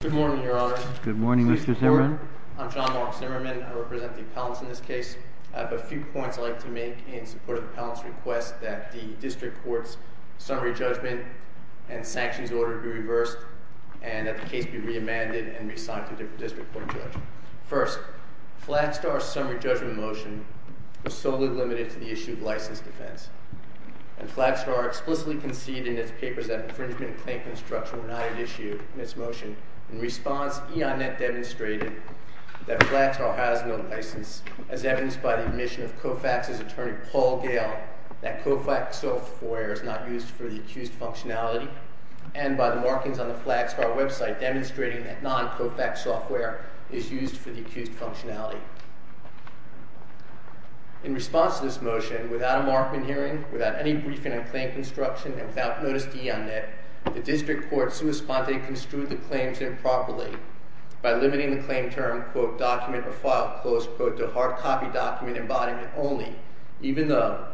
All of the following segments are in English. Good morning, Your Honor. Good morning, Mr. Zimmerman. I'm John Mark Zimmerman. I represent the appellants in this case. I have a few points I'd like to make in support of the appellant's request that the district court's summary judgment and sanctions order be reversed and that the case be re-amended and re-signed to a different district court judge. First, Flagstar's summary judgment motion was solely limited to the issue of license defense. And Flagstar explicitly conceded in its papers that infringement and claim construction were not an issue in its motion. In response, EON-NET demonstrated that Flagstar has no license as evidenced by the admission of COFAX's attorney Paul Gale that COFAX software is not used for the accused functionality and by the markings on the Flagstar website demonstrating that non-COFAX software is used for the accused functionality. In response to this motion, without a markman hearing, without any briefing on claim construction, and without notice to EON-NET, the district court, sua sponte, construed the claims improperly by limiting the claim term, quote, document or file close, quote, to hard copy document embodiment only, even though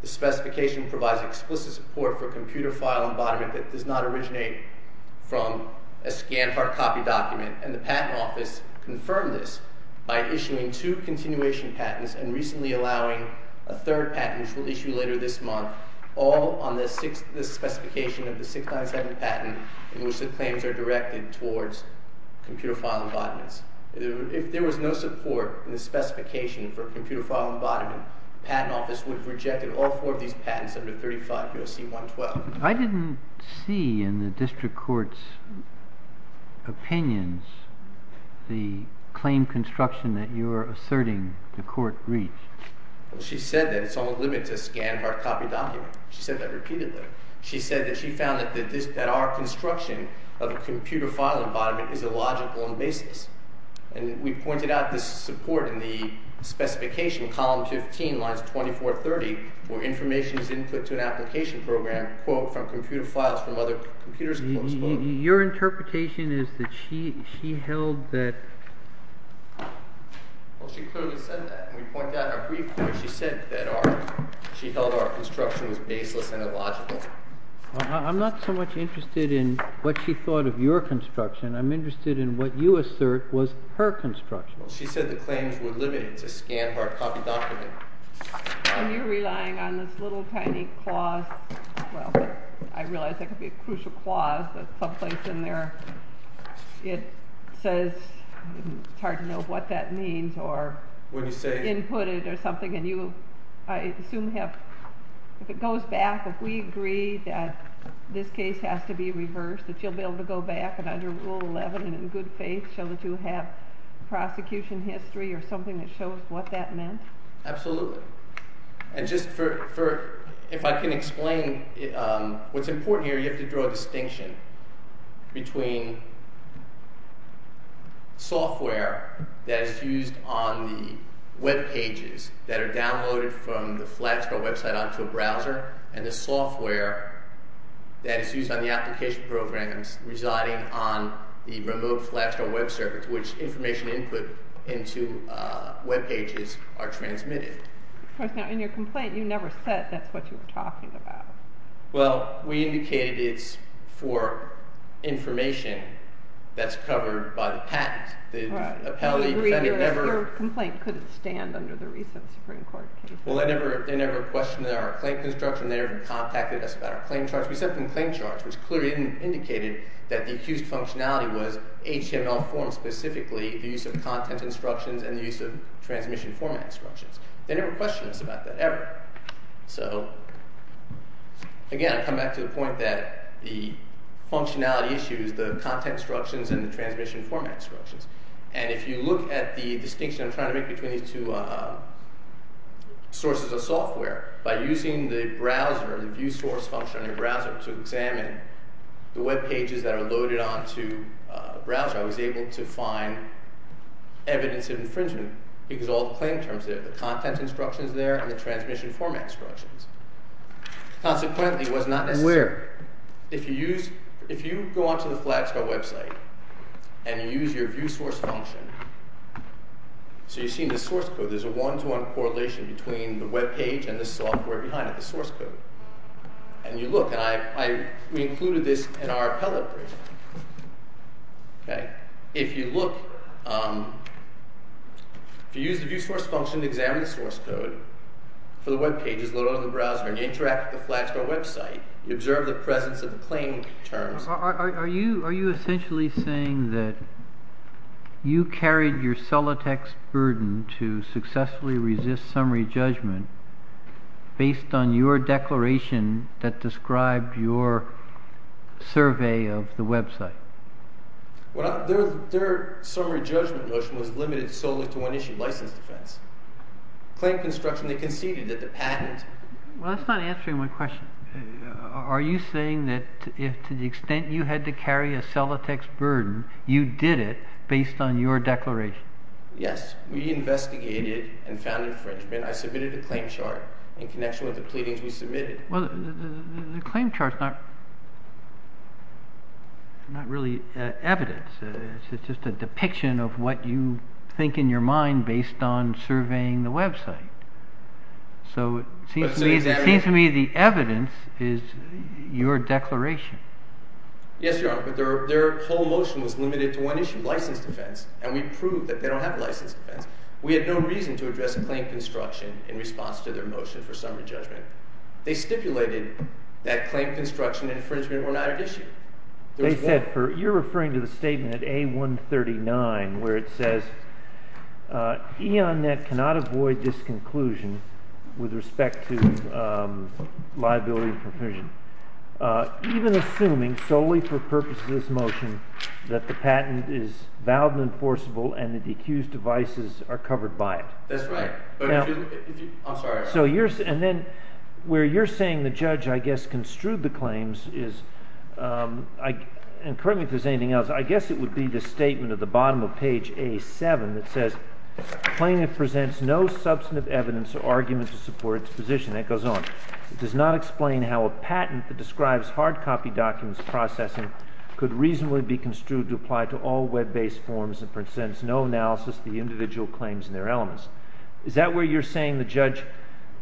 the specification provides explicit support for computer file embodiment that does not originate from a scanned hard copy document. And the Patent Office confirmed this by issuing two continuation patents and recently allowing a third patent, which we'll issue later this month, all on the specification of the 697 patent in which the claims are directed towards computer file embodiments. If there was no support in the specification for computer file embodiment, the Patent Office would have rejected all four of these patents under 35 U.S.C. 112. I didn't see in the district court's opinions the claim construction that you are asserting the court reached. Well, she said that it's on the limit to a scanned hard copy document. She said that repeatedly. She said that she found that our construction of a computer file embodiment is illogical in basis. And we pointed out this support in the specification, column 15, lines 24, 30, where information is input to an application program, quote, from computer files from other computers close, quote. Your interpretation is that she held that... Well, she clearly said that, and we point out how briefly she said that she held our construction was baseless and illogical. I'm not so much interested in what she thought of your construction. I'm interested in what you assert was her construction. Well, she said the claims were limited to a scanned hard copy document. And you're relying on this little tiny clause. Well, I realize that could be a crucial clause, but someplace in there it says it's hard to know what that means or input it or something. And I assume if it goes back, if we agree that this case has to be reversed, that you'll be able to go back and under Rule 11 and in good faith show that you have prosecution history or something that shows what that meant? Absolutely. And just if I can explain what's important here, we have to draw a distinction between software that is used on the webpages that are downloaded from the Flagstaff website onto a browser and the software that is used on the application programs residing on the remote Flagstaff web circuit to which information input into webpages are transmitted. Now, in your complaint, you never said that's what you were talking about. Well, we indicated it's for information that's covered by the patent. Your complaint couldn't stand under the recent Supreme Court case. Well, they never questioned our claim construction. They never contacted us about our claim charge. We sent them claim charge, which clearly indicated that the accused functionality was HTML form specifically, the use of content instructions and the use of transmission format instructions. They never questioned us about that ever. So, again, I come back to the point that the functionality issues, the content instructions and the transmission format instructions. And if you look at the distinction I'm trying to make between these two sources of software, by using the browser, the view source function on your browser to examine the webpages that are loaded onto a browser, I was able to find evidence of infringement because all the claim terms there, the content instructions there, and the transmission format instructions. Consequently, it was not as... Where? If you go onto the Flagsco website and you use your view source function, so you see in the source code there's a one-to-one correlation between the webpage and the software behind it, the source code. And you look, and we included this in our appellate brief. Okay? If you look, if you use the view source function to examine the source code for the webpages loaded onto the browser, and you interact with the Flagsco website, you observe the presence of the claim terms. Are you essentially saying that you carried your cellotext burden to successfully resist summary judgment based on your declaration that described your survey of the website? Their summary judgment motion was limited solely to one issue, license defense. Claim construction, they conceded that the patent... Well, that's not answering my question. Are you saying that to the extent you had to carry a cellotext burden, you did it based on your declaration? Yes. We investigated and found infringement. I submitted a claim chart in connection with the pleadings we submitted. Well, the claim chart's not really evidence. It's just a depiction of what you think in your mind based on surveying the website. So it seems to me the evidence is your declaration. Yes, Your Honor, but their whole motion was limited to one issue, license defense, and we proved that they don't have license defense. We had no reason to address claim construction in response to their motion for summary judgment. They stipulated that claim construction and infringement were not at issue. You're referring to the statement at A139 where it says, E.On.Net cannot avoid this conclusion with respect to liability for infringement, even assuming solely for purposes of this motion that the patent is valid and enforceable and that the accused devices are covered by it. That's right. I'm sorry. And then where you're saying the judge, I guess, construed the claims is, and correct me if there's anything else, I guess it would be the statement at the bottom of page A7 that says, Claimant presents no substantive evidence or argument to support its position. That goes on. It does not explain how a patent that describes hard copy documents processing could reasonably be construed to apply to all web-based forms and presents no analysis of the individual claims and their elements. Is that where you're saying the judge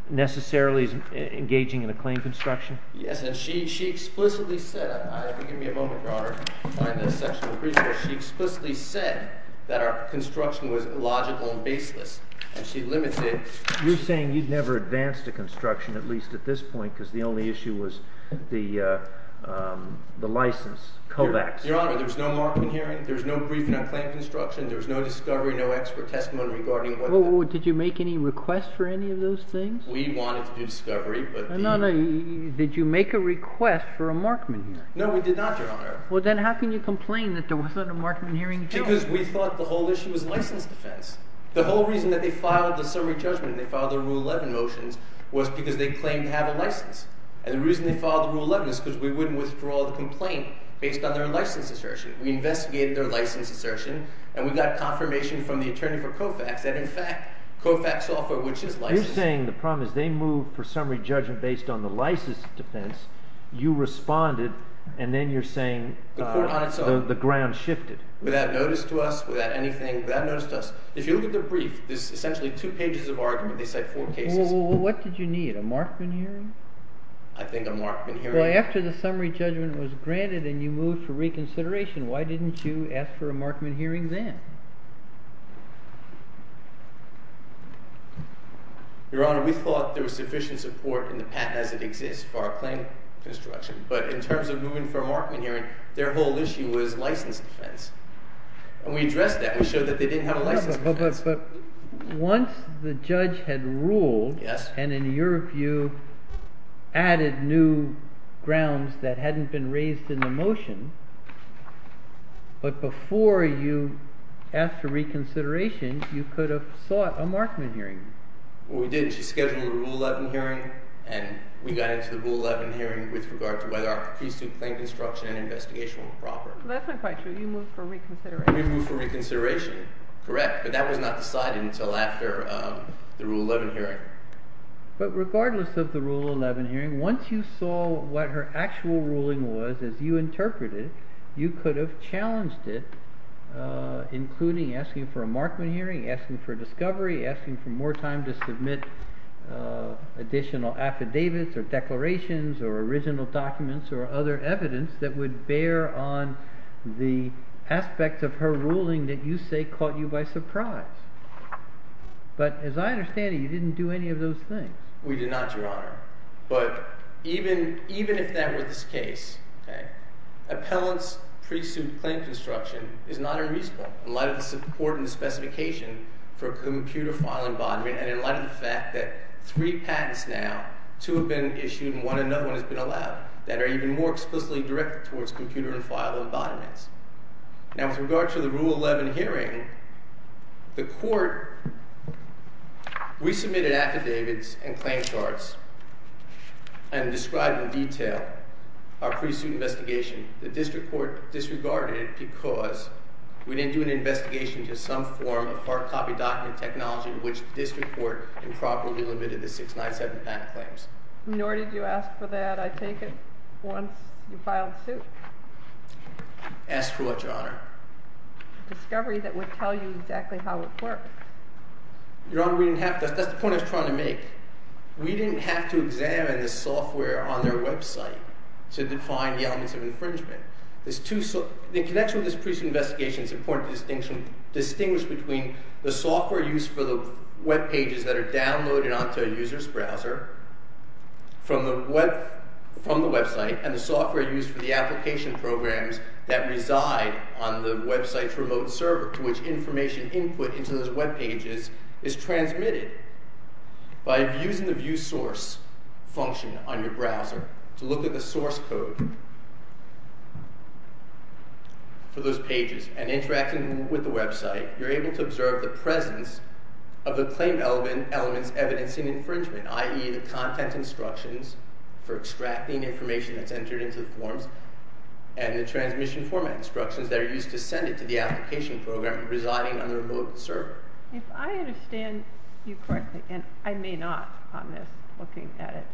necessarily is engaging in a claim construction? Yes. And she explicitly said, give me a moment, Your Honor, in the section of the briefcase, she explicitly said that our construction was illogical and baseless. And she limits it. You're saying you've never advanced a construction, at least at this point, because the only issue was the license, COVAX. Your Honor, there was no mark-up hearing. There was no briefing on claim construction. There was no discovery, no expert testimony regarding whether or did you make any requests for any of those things? We wanted to do discovery. No, no. Did you make a request for a mark-up hearing? No, we did not, Your Honor. Well, then how can you complain that there wasn't a mark-up hearing? Because we thought the whole issue was license defense. The whole reason that they filed the summary judgment and they filed their Rule 11 motions was because they claimed to have a license. And the reason they filed the Rule 11 is because we wouldn't withdraw the complaint based on their license assertion. We investigated their license assertion, and we got confirmation from the attorney for COVAX that, in fact, COVAX software, which is license. You're saying the problem is they moved for summary judgment based on the license defense. You responded, and then you're saying the ground shifted. Without notice to us, without anything, without notice to us. If you look at their brief, there's essentially two pages of argument. They cite four cases. Well, what did you need, a mark-up hearing? I think a mark-up hearing. Well, after the summary judgment was granted and you moved for reconsideration, why didn't you ask for a mark-up hearing then? Your Honor, we thought there was sufficient support in the patent as it exists for our claim construction. But in terms of moving for a mark-up hearing, their whole issue was license defense. And we addressed that. We showed that they didn't have a license defense. But once the judge had ruled and, in your view, added new grounds that hadn't been raised in the motion, but before you asked for reconsideration, you could have sought a mark-up hearing. Well, we did. She scheduled a Rule 11 hearing, and we got into the Rule 11 hearing with regard to whether our pre-suit claim construction and investigation were proper. That's not quite true. You moved for reconsideration. We moved for reconsideration, correct. But that was not decided until after the Rule 11 hearing. But regardless of the Rule 11 hearing, once you saw what her actual ruling was, as you interpreted it, you could have challenged it, including asking for a markman hearing, asking for a discovery, asking for more time to submit additional affidavits or declarations or original documents or other evidence that would bear on the aspect of her ruling that you say caught you by surprise. But as I understand it, you didn't do any of those things. We did not, Your Honor. But even if that were the case, appellant's pre-suit claim construction is not unreasonable in light of the support and the specification for a computer file embodiment and in light of the fact that three patents now, two have been issued and one another one has been allowed, that are even more explicitly directed towards computer and file embodiments. Now, with regard to the Rule 11 hearing, the court resubmitted affidavits and claim charts and described in detail our pre-suit investigation. The district court disregarded it because we didn't do an investigation to some form of hard copy document technology in which the district court improperly limited the 697 patent claims. Nor did you ask for that, I take it, once you filed the suit. Asked for what, Your Honor? A discovery that would tell you exactly how it worked. Your Honor, we didn't have to. That's the point I was trying to make. We didn't have to examine the software on their website to define the elements of infringement. The connection with this pre-suit investigation is important to distinguish between the software used for the webpages that are downloaded onto a user's browser from the website, and the software used for the application programs that reside on the website's remote server, to which information input into those webpages is transmitted by using the View Source function on your browser to look at the source code for those pages, and interacting with the website, you're able to observe the presence of the claim element's evidence in infringement, i.e. the content instructions for extracting information that's entered into the forms, and the transmission format instructions that are used to send it to the application program residing on the remote server. If I understand you correctly, and I may not on this, looking at it,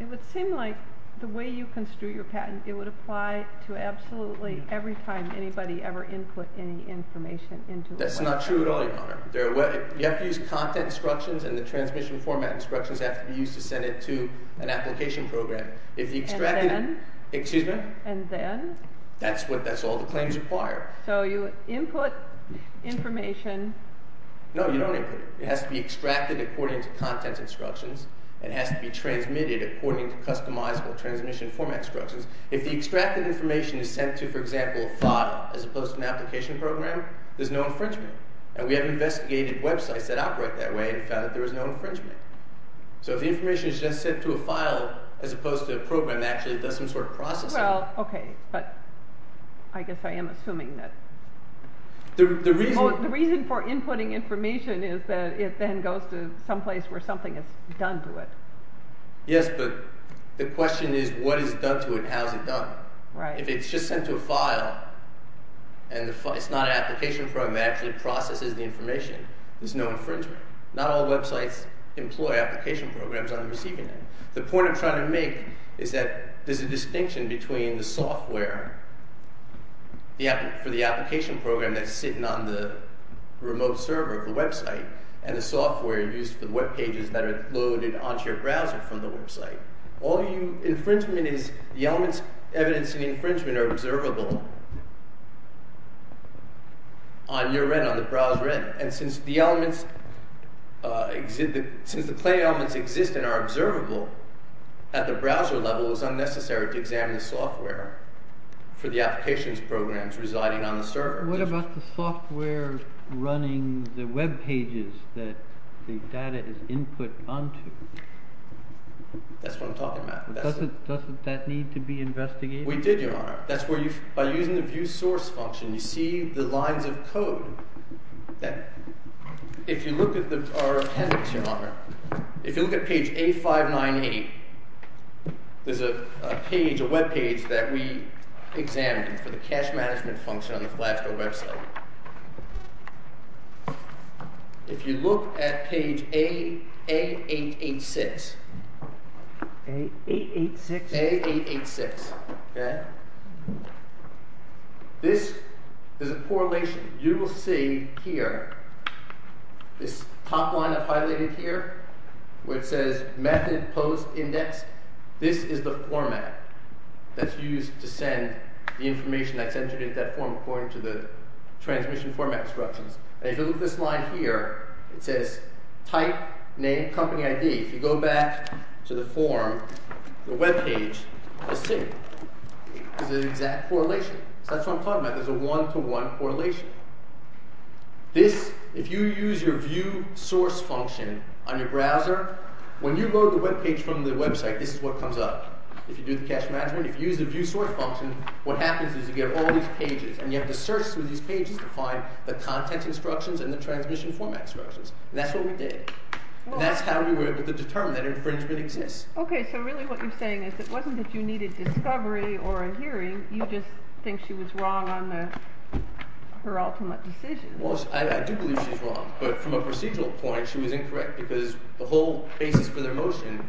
it would seem like the way you construe your patent, it would apply to absolutely every time anybody ever input any information into a website. That's not true at all, Your Honor. You have to use content instructions, and the transmission format instructions have to be used to send it to an application program. And then? Excuse me? And then? That's all the claims require. So you input information... No, you don't input it. It has to be extracted according to content instructions. It has to be transmitted according to customizable transmission format instructions. If the extracted information is sent to, for example, a file, as opposed to an application program, there's no infringement. And we have investigated websites that operate that way and found that there was no infringement. So if the information is just sent to a file as opposed to a program that actually does some sort of processing... Well, okay, but I guess I am assuming that... The reason for inputting information is that it then goes to some place where something is done to it. Yes, but the question is what is done to it and how is it done. Right. If it's just sent to a file and it's not an application program that actually processes the information, there's no infringement. Not all websites employ application programs on the receiving end. The point I'm trying to make is that there's a distinction between the software for the application program that's sitting on the remote server of the website and the software used for the webpages that are loaded onto your browser from the website. Infringement is the elements evidenced in infringement are observable on your end, on the browser end. And since the claim elements exist and are observable at the browser level, it's unnecessary to examine the software for the applications programs residing on the server. What about the software running the webpages that the data is input onto? That's what I'm talking about. Doesn't that need to be investigated? We did, Your Honor. That's where you, by using the view source function, you see the lines of code that, if you look at our appendix, Your Honor, if you look at page A598, there's a page, a webpage that we examined for the cache management function on the Flasco website. If you look at page A886, this is a correlation. You will see here this top line I've highlighted here where it says method post index. This is the format that's used to send the information that's entered into that form according to the transmission format instructions. And if you look at this line here, it says type, name, company ID. If you go back to the form, the webpage, let's see. This is an exact correlation. So that's what I'm talking about. There's a one-to-one correlation. This, if you use your view source function on your browser, when you load the webpage from the website, this is what comes up. If you do the cache management, if you use the view source function, what happens is you get all these pages. And you have to search through these pages to find the content instructions and the transmission format instructions. And that's what we did. And that's how we were able to determine that infringement exists. Okay, so really what you're saying is it wasn't that you needed discovery or a hearing. You just think she was wrong on her ultimate decision. Well, I do believe she's wrong. But from a procedural point, she was incorrect because the whole basis for their motion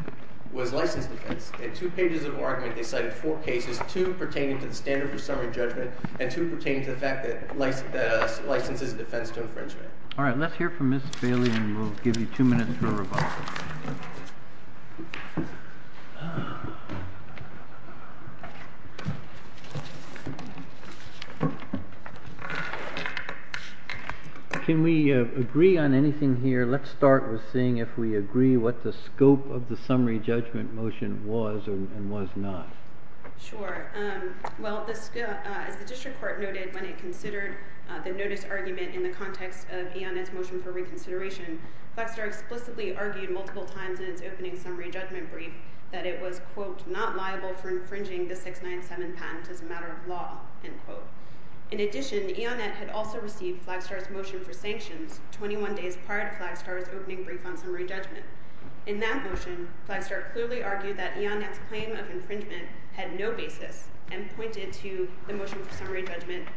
was license defense. In two pages of argument, they cited four cases, two pertaining to the standard for summary judgment and two pertaining to the fact that license is a defense to infringement. All right, let's hear from Ms. Bailey, and we'll give you two minutes for a rebuttal. Can we agree on anything here? Let's start with seeing if we agree what the scope of the summary judgment motion was and was not. Sure. Well, as the district court noted when it considered the notice argument in the context of Aionet's motion for reconsideration, Flagstar explicitly argued multiple times in its opening summary judgment brief that it was, quote, not liable for infringing the 697 patent as a matter of law, end quote. In addition, Aionet had also received Flagstar's motion for sanctions 21 days prior to Flagstar's opening brief on summary judgment. In that motion, Flagstar clearly argued that Aionet's claim of infringement had no basis and pointed to the motion for summary judgment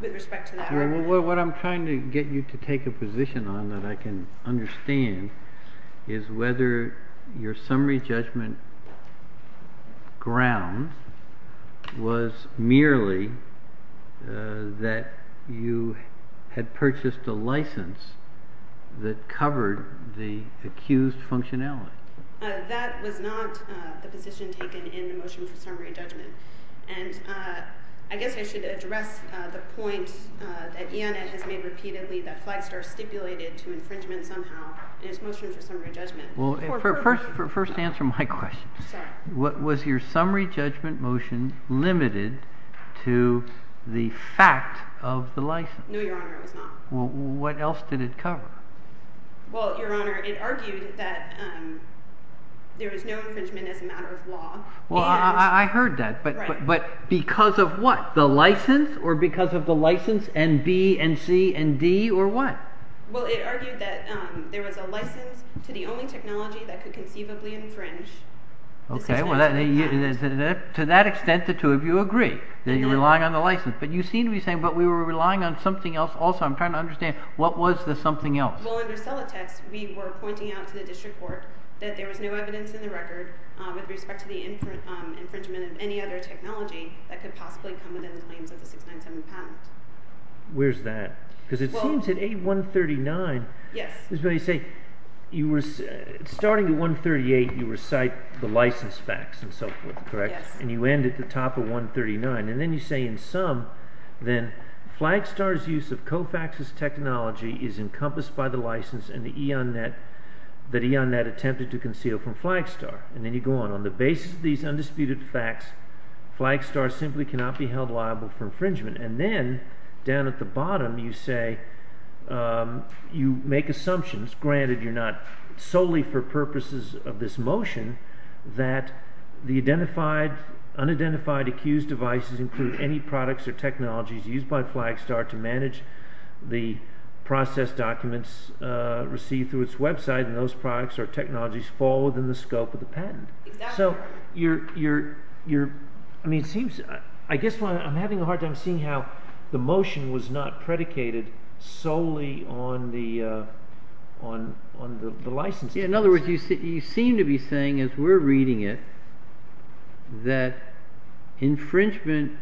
with respect to that argument. What I'm trying to get you to take a position on that I can understand is whether your summary judgment ground was merely that you had purchased a license that covered the accused functionality. That was not the position taken in the motion for summary judgment. And I guess I should address the point that Aionet has made repeatedly that Flagstar stipulated to infringement somehow in its motion for summary judgment. First answer my question. Sorry. Was your summary judgment motion limited to the fact of the license? No, Your Honor, it was not. Well, what else did it cover? Well, Your Honor, it argued that there was no infringement as a matter of law. Well, I heard that, but because of what? The license or because of the license and B and C and D or what? Well, it argued that there was a license to the only technology that could conceivably infringe the 697 patent. To that extent, the two of you agree that you're relying on the license. But you seem to be saying, but we were relying on something else also. I'm trying to understand. What was the something else? Well, under Celatex, we were pointing out to the district court that there was no evidence in the record with respect to the infringement of any other technology that could possibly come within the claims of the 697 patent. Where's that? Because it seems at 8139. Yes. Starting at 138, you recite the license facts and so forth, correct? Yes. And you end at the top of 139. And then you say in sum, then Flagstar's use of COFAX's technology is encompassed by the license and the E.ON.net attempted to conceal from Flagstar. And then you go on. On the basis of these undisputed facts, Flagstar simply cannot be held liable for infringement. And then down at the bottom, you say you make assumptions, granted you're not solely for purposes of this motion, that the unidentified accused devices include any products or technologies used by Flagstar to manage the process documents received through its website. And those products or technologies fall within the scope of the patent. Exactly. So I guess I'm having a hard time seeing how the motion was not predicated solely on the license. In other words, you seem to be saying, as we're reading it, that infringement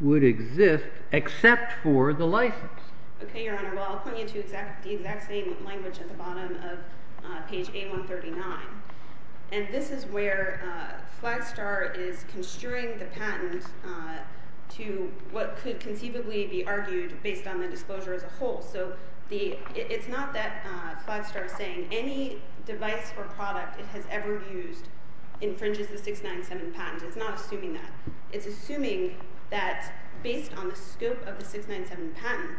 would exist except for the license. OK, Your Honor. Well, I'll point you to the exact same language at the bottom of page 8139. And this is where Flagstar is construing the patent to what could conceivably be argued based on the disclosure as a whole. So it's not that Flagstar is saying any device or product it has ever used infringes the 697 patent. It's not assuming that. It's assuming that based on the scope of the 697 patent,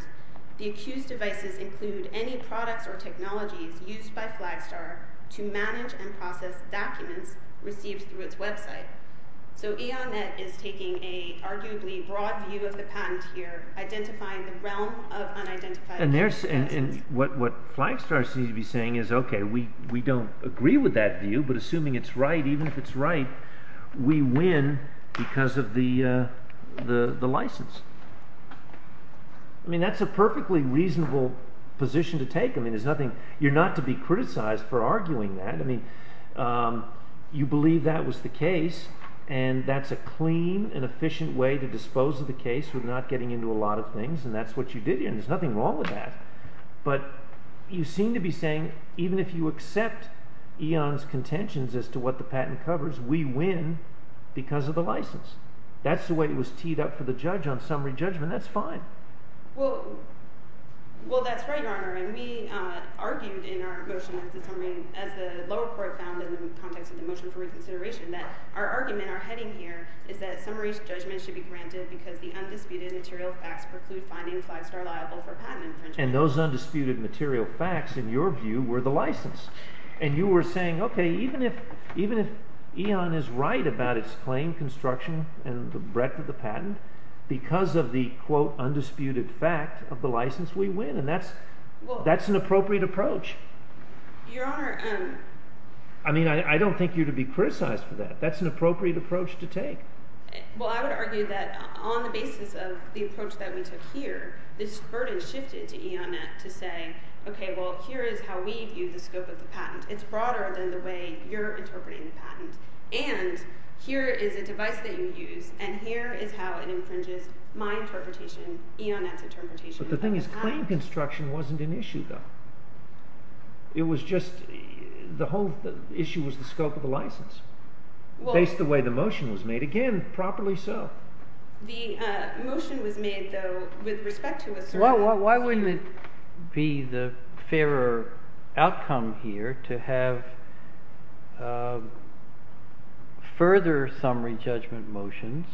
the accused devices include any products or technologies used by Flagstar to manage and process documents received through its website. So E.O. Net is taking an arguably broad view of the patent here, identifying the realm of unidentified devices. And what Flagstar seems to be saying is, OK, we don't agree with that view, but assuming it's right, even if it's right, we win because of the license. I mean, that's a perfectly reasonable position to take. I mean, you're not to be criticized for arguing that. I mean, you believe that was the case, and that's a clean and efficient way to dispose of the case with not getting into a lot of things, and that's what you did here, and there's nothing wrong with that. But you seem to be saying even if you accept E.O. Net's contentions as to what the patent covers, we win because of the license. That's the way it was teed up for the judge on summary judgment. That's fine. Well, that's right, Your Honor, and we argued in our motion as the lower court found in the context of the motion for reconsideration that our argument, and our heading here, is that summary judgment should be granted because the undisputed material facts preclude finding Flagstar liable for patent infringement. And those undisputed material facts, in your view, were the license. And you were saying, OK, even if E.O. Net is right about its claim, construction, and the breadth of the patent, because of the, quote, undisputed fact of the license, we win, and that's an appropriate approach. Your Honor, I mean, I don't think you're to be criticized for that. That's an appropriate approach to take. Well, I would argue that on the basis of the approach that we took here, this burden shifted to E.O. Net to say, OK, well, here is how we view the scope of the patent. It's broader than the way you're interpreting the patent. And here is a device that you use, and here is how it infringes my interpretation, E.O. Net's interpretation of the patent. But the thing is, claim construction wasn't an issue, though. It was just the whole issue was the scope of the license, based the way the motion was made. Again, properly so. The motion was made, though, with respect to a certain issue. Why wouldn't it be the fairer outcome here to have further summary judgment motions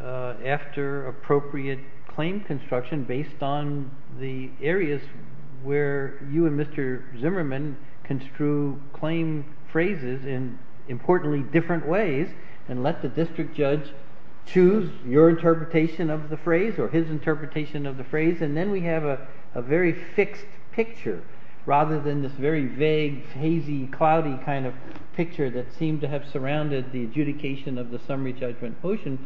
after appropriate claim construction based on the areas where you and Mr. Zimmerman construe claim phrases in, importantly, different ways and let the district judge choose your interpretation of the phrase or his interpretation of the phrase, and then we have a very fixed picture rather than this very vague, hazy, cloudy kind of picture that seemed to have surrounded the adjudication of the summary judgment motion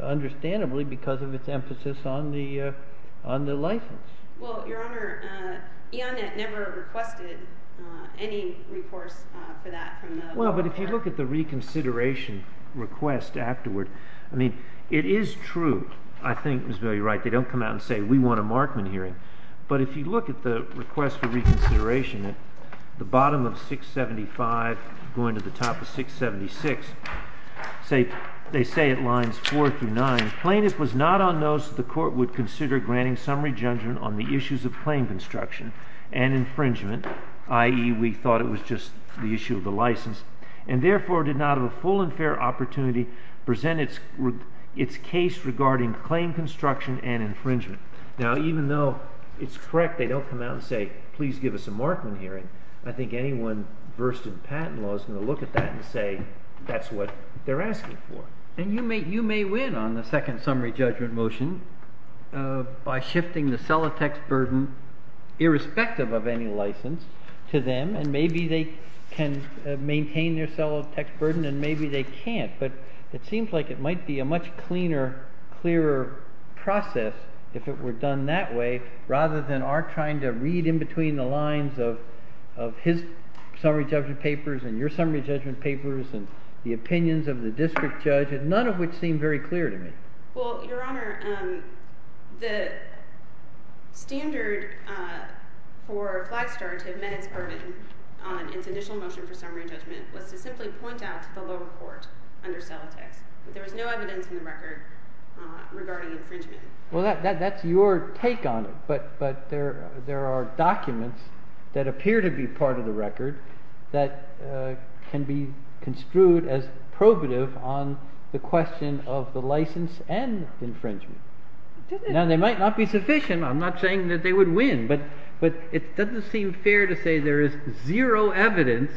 understandably because of its emphasis on the license. Well, Your Honor, E.O. Net never requested any recourse for that. Well, but if you look at the reconsideration request afterward, I mean, it is true. I think Ms. Bailey is right. They don't come out and say, we want a Markman hearing. But if you look at the request for reconsideration, the bottom of 675 going to the top of 676, they say at lines 4 through 9, plaintiff was not on those that the court would consider granting summary judgment on the issues of claim construction and infringement, i.e., we thought it was just the issue of the license, and therefore did not have a full and fair opportunity to present its case regarding claim construction and infringement. Now, even though it's correct they don't come out and say, please give us a Markman hearing, I think anyone versed in patent law is going to look at that and say that's what they're asking for. And you may win on the second summary judgment motion by shifting the sellotext burden, irrespective of any license, to them, and maybe they can maintain their sellotext burden and maybe they can't. But it seems like it might be a much cleaner, clearer process if it were done that way, rather than our trying to read in between the lines of his summary judgment papers and your summary judgment papers and the opinions of the district judge, none of which seem very clear to me. Well, Your Honor, the standard for Flagstar to amend its burden on its initial motion for summary judgment was to simply point out to the lower court under sellotext that there was no evidence in the record regarding infringement. Well, that's your take on it. But there are documents that appear to be part of the record that can be construed as probative on the question of the license and infringement. Now, they might not be sufficient. I'm not saying that they would win. But it doesn't seem fair to say there is zero evidence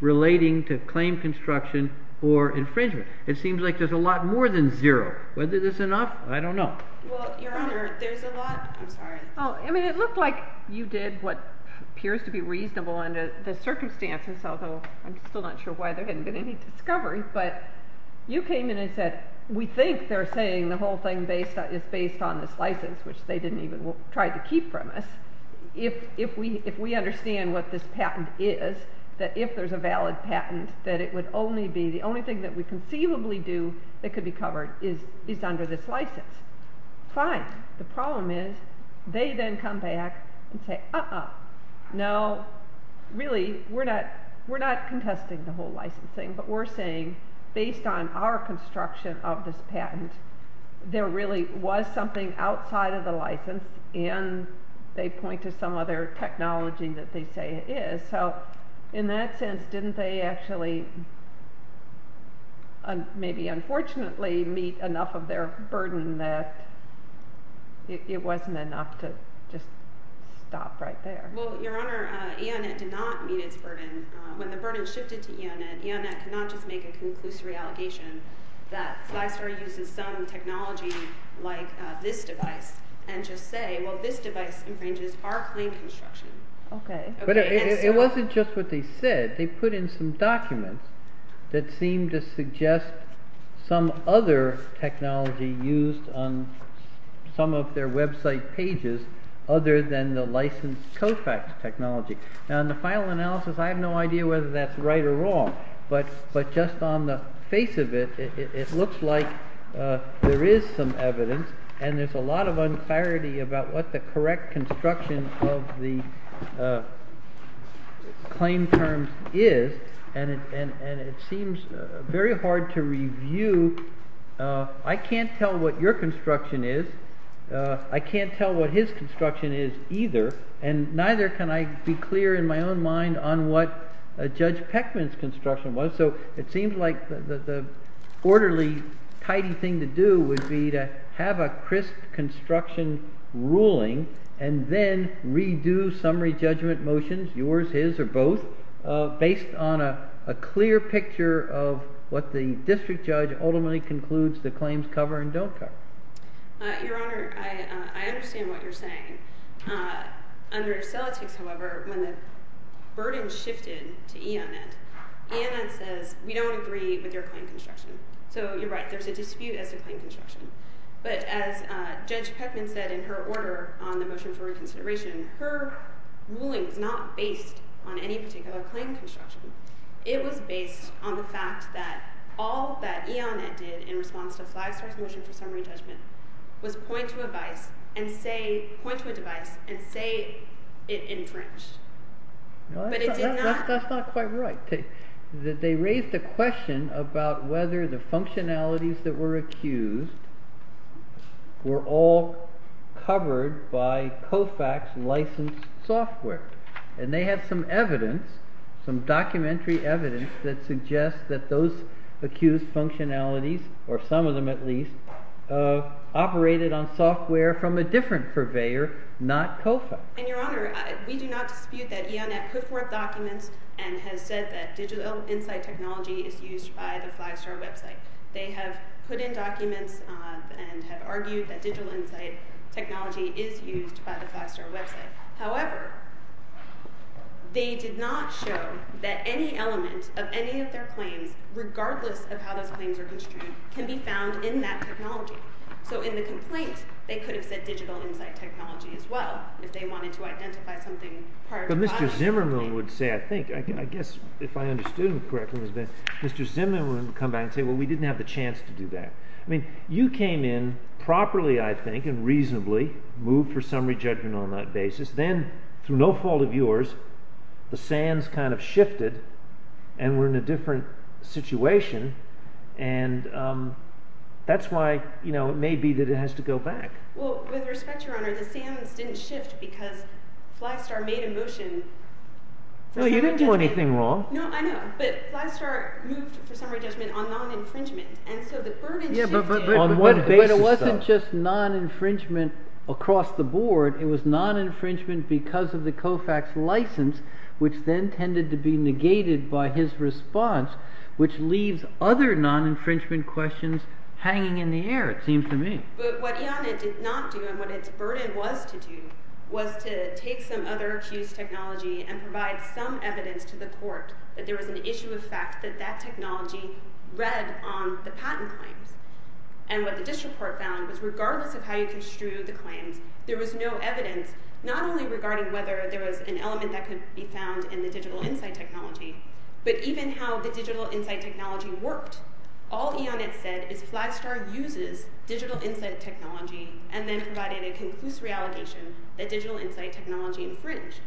relating to claim construction or infringement. It seems like there's a lot more than zero. Whether this is enough, I don't know. Well, Your Honor, there's a lot. I'm sorry. I mean, it looked like you did what appears to be reasonable under the circumstances, although I'm still not sure why there hasn't been any discovery. But you came in and said, we think they're saying the whole thing is based on this license, which they didn't even try to keep from us. If we understand what this patent is, that if there's a valid patent, that it would only be the only thing that we conceivably do that could be covered is under this license. Fine. The problem is they then come back and say, uh-uh. No, really, we're not contesting the whole license thing, but we're saying based on our construction of this patent, there really was something outside of the license, and they point to some other technology that they say it is. In that sense, didn't they actually, maybe unfortunately, meet enough of their burden that it wasn't enough to just stop right there? Well, Your Honor, EONET did not meet its burden. When the burden shifted to EONET, EONET could not just make a conclusory allegation that Flystar uses some technology like this device and just say, well, this device infringes our claim construction. Okay. But it wasn't just what they said. They put in some documents that seemed to suggest some other technology used on some of their website pages other than the licensed COFAX technology. Now, in the final analysis, I have no idea whether that's right or wrong, but just on the face of it, it looks like there is some evidence and there's a lot of unclarity about what the correct construction of the claim terms is, and it seems very hard to review. I can't tell what your construction is. I can't tell what his construction is either, and neither can I be clear in my own mind on what Judge Peckman's construction was. So it seems like the orderly, tidy thing to do would be to have a crisp construction ruling and then redo summary judgment motions, yours, his, or both, based on a clear picture of what the district judge ultimately concludes the claims cover and don't cover. Your Honor, I understand what you're saying. Under Celotix, however, when the burden shifted to EONET, EONET says, we don't agree with your claim construction. So you're right, there's a dispute as to claim construction. But as Judge Peckman said in her order on the motion for reconsideration, her ruling is not based on any particular claim construction. It was based on the fact that all that EONET did in response to Flagstaff's motion for summary judgment was point to a device and say it infringed. That's not quite right. They raised a question about whether the functionalities that were accused were all covered by COFAC's licensed software. And they have some evidence, some documentary evidence, that suggests that those accused functionalities, or some of them at least, operated on software from a different purveyor, not COFAC. And, Your Honor, we do not dispute that EONET put forth documents and has said that digital insight technology is used by the Flagstar website. They have put in documents and have argued that digital insight technology is used by the Flagstar website. However, they did not show that any element of any of their claims, regardless of how those claims are construed, can be found in that technology. So in the complaint, they could have said digital insight technology as well if they wanted to identify something prior to COFAC. But Mr. Zimmerman would say, I think, I guess if I understood him correctly, Mr. Zimmerman would come back and say, well, we didn't have the chance to do that. I mean, you came in properly, I think, and reasonably, moved for summary judgment on that basis. Then, through no fault of yours, the sands kind of shifted and we're in a different situation. And that's why, you know, it may be that it has to go back. Well, with respect, Your Honor, the sands didn't shift because Flagstar made a motion. No, you didn't do anything wrong. No, I know. But Flagstar moved for summary judgment on non-infringement. And so the burden shifted. But it wasn't just non-infringement across the board. It was non-infringement because of the COFAC's license, which then tended to be negated by his response, which leaves other non-infringement questions hanging in the air, it seems to me. But what IANET did not do and what its burden was to do was to take some other accused technology and provide some evidence to the court that there was an issue of fact that that technology read on the patent claims. And what the district court found was, regardless of how you construed the claims, there was no evidence, not only regarding whether there was an element that could be found in the digital insight technology, but even how the digital insight technology worked. All IANET said is Flagstar uses digital insight technology and then provided a conclusive allegation that digital insight technology infringed.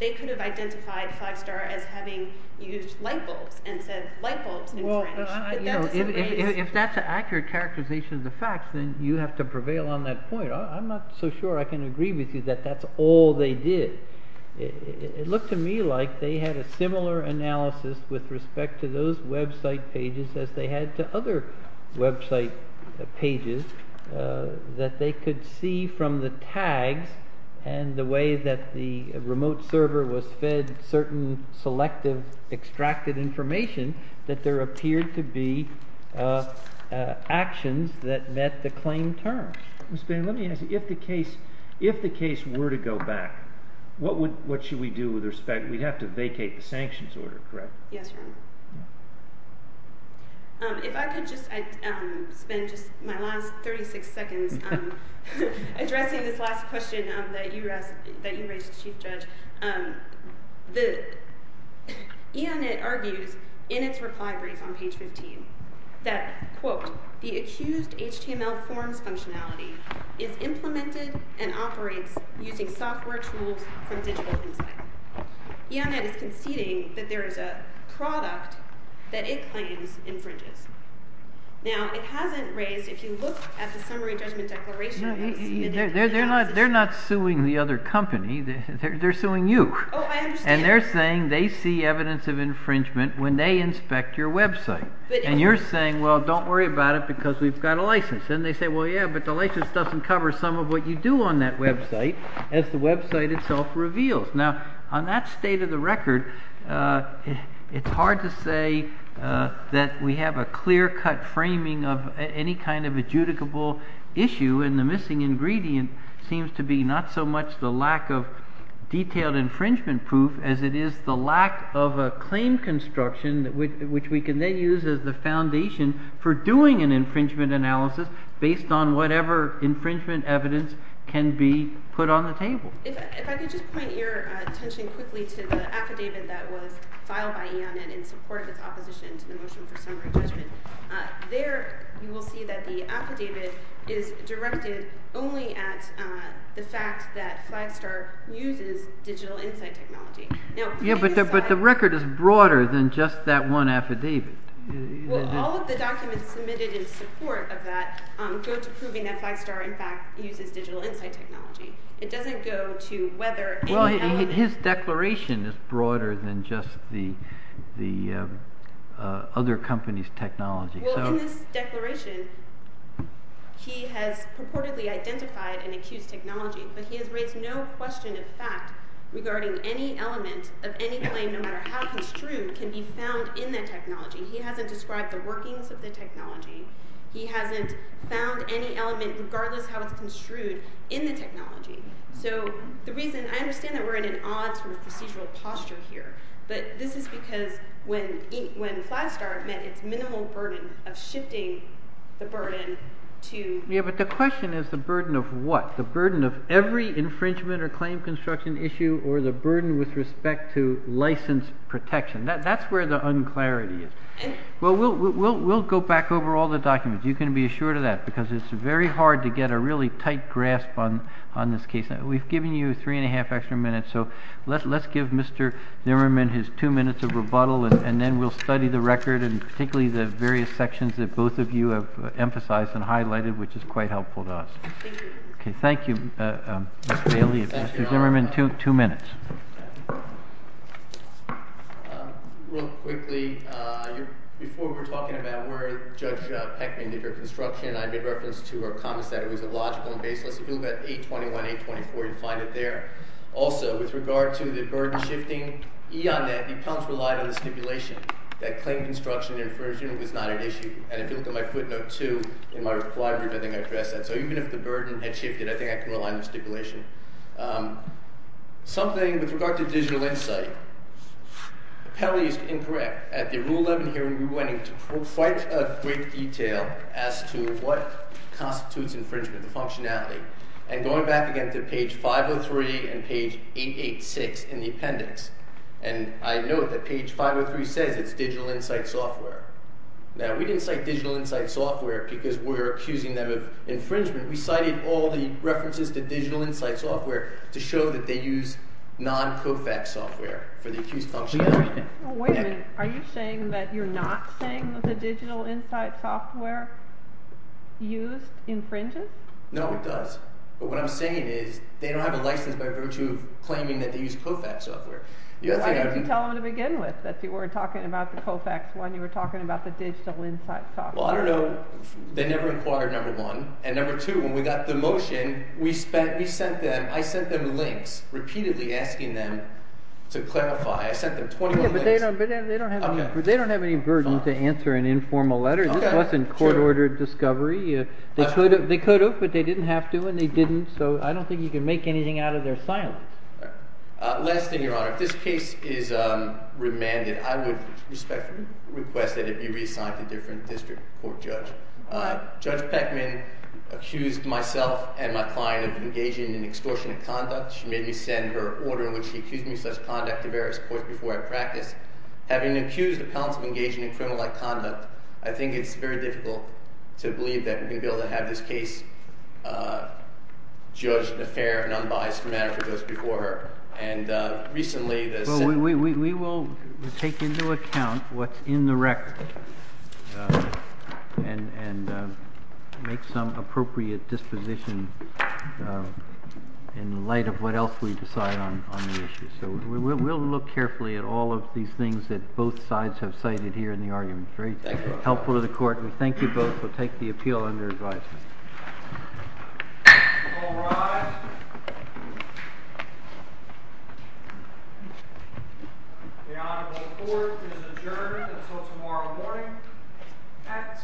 They could have identified Flagstar as having used lightbulbs and said lightbulbs infringed. If that's an accurate characterization of the facts, then you have to prevail on that point. I'm not so sure I can agree with you that that's all they did. It looked to me like they had a similar analysis with respect to those website pages as they had to other website pages that they could see from the tags and the way that the remote server was fed certain selective extracted information that there appeared to be actions that met the claim terms. Mr. Bannon, let me ask you, if the case were to go back, what should we do with respect? We'd have to vacate the sanctions order, correct? Yes, Your Honor. If I could just spend my last 36 seconds addressing this last question that you raised, Chief Judge. IANET argues in its reply brief on page 15 that, quote, the accused HTML forms functionality is implemented and operates using software tools from digital insight. IANET is conceding that there is a product that it claims infringes. Now, it hasn't raised, if you look at the summary judgment declaration No, they're not suing the other company. They're suing you. Oh, I understand. And they're saying they see evidence of infringement when they inspect your website. And you're saying, well, don't worry about it because we've got a license. And they say, well, yeah, but the license doesn't cover some of what you do on that website, as the website itself reveals. Now, on that state of the record, it's hard to say that we have a clear-cut framing of any kind of adjudicable issue. And the missing ingredient seems to be not so much the lack of detailed infringement proof as it is the lack of a claim construction, which we can then use as the foundation for doing an infringement analysis based on whatever infringement evidence can be put on the table. If I could just point your attention quickly to the affidavit that was filed by IANET in support of its opposition to the motion for summary judgment. There, you will see that the affidavit is directed only at the fact that Flagstar uses digital insight technology. Yeah, but the record is broader than just that one affidavit. Well, all of the documents submitted in support of that go to proving that Flagstar, in fact, uses digital insight technology. It doesn't go to whether any element... Well, his declaration is broader than just the other company's technology. Well, in this declaration, he has purportedly identified and accused technology, but he has raised no question of fact regarding any element of any claim, no matter how construed, can be found in that technology. He hasn't described the workings of the technology. He hasn't found any element, regardless how it's construed, in the technology. So the reason, I understand that we're in an odd sort of procedural posture here, but this is because when Flagstar met its minimal burden of shifting the burden to... Yeah, but the question is the burden of what? The burden of every infringement or claim construction issue or the burden with respect to license protection. That's where the unclarity is. Well, we'll go back over all the documents. You can be assured of that because it's very hard to get a really tight grasp on this case. We've given you three and a half extra minutes, so let's give Mr. Nimmerman his two minutes of rebuttal, and then we'll study the record and particularly the various sections that both of you have emphasized and highlighted, which is quite helpful to us. Thank you. Okay, thank you, Ms. Bailey. Mr. Nimmerman, two minutes. Real quickly, before we were talking about where Judge Peckman did her construction, I made reference to her comments that it was illogical and baseless. If you look at 821-824, you'll find it there. Also, with regard to the burden shifting, the appellants relied on the stipulation that claim construction infringement was not an issue. And if you look at my footnote 2 in my reply, I think I addressed that. So even if the burden had shifted, I think I can rely on the stipulation. Something with regard to digital insight, the penalty is incorrect. At the Rule 11 hearing, we went into quite a great detail as to what constitutes infringement, the functionality. And going back again to page 503 and page 886 in the appendix, and I note that page 503 says it's digital insight software. Now, we didn't cite digital insight software because we're accusing them of infringement. We cited all the references to digital insight software to show that they use non-COFAX software for the accused function. Wait a minute. Are you saying that you're not saying that the digital insight software used infringes? No, it does. But what I'm saying is they don't have a license by virtue of claiming that they use COFAX software. Why didn't you tell them to begin with that you weren't talking about the COFAX one? You were talking about the digital insight software. Well, I don't know. They never inquired, number one. And number two, when we got the motion, we sent them – I sent them links repeatedly asking them to clarify. I sent them 21 links. But they don't have any burden to answer an informal letter. This wasn't court-ordered discovery. They could have, but they didn't have to, and they didn't. So I don't think you can make anything out of their silence. Last thing, Your Honor. If this case is remanded, I would respectfully request that it be reassigned to a different district court judge. Judge Peckman accused myself and my client of engaging in extortionate conduct. She made me send her order in which she accused me of such conduct to various courts before I practiced. Having accused appellants of engaging in criminal-like conduct, I think it's very difficult to believe that we're going to be able to have this case judged in a fair and unbiased manner for those before her. And recently, the – Well, we will take into account what's in the record and make some appropriate disposition in light of what else we decide on the issue. So we'll look carefully at all of these things that both sides have cited here in the argument. Very helpful to the court. We thank you both. We'll take the appeal under advisory. All rise. The honorable court is adjourned until tomorrow morning at 10 o'clock.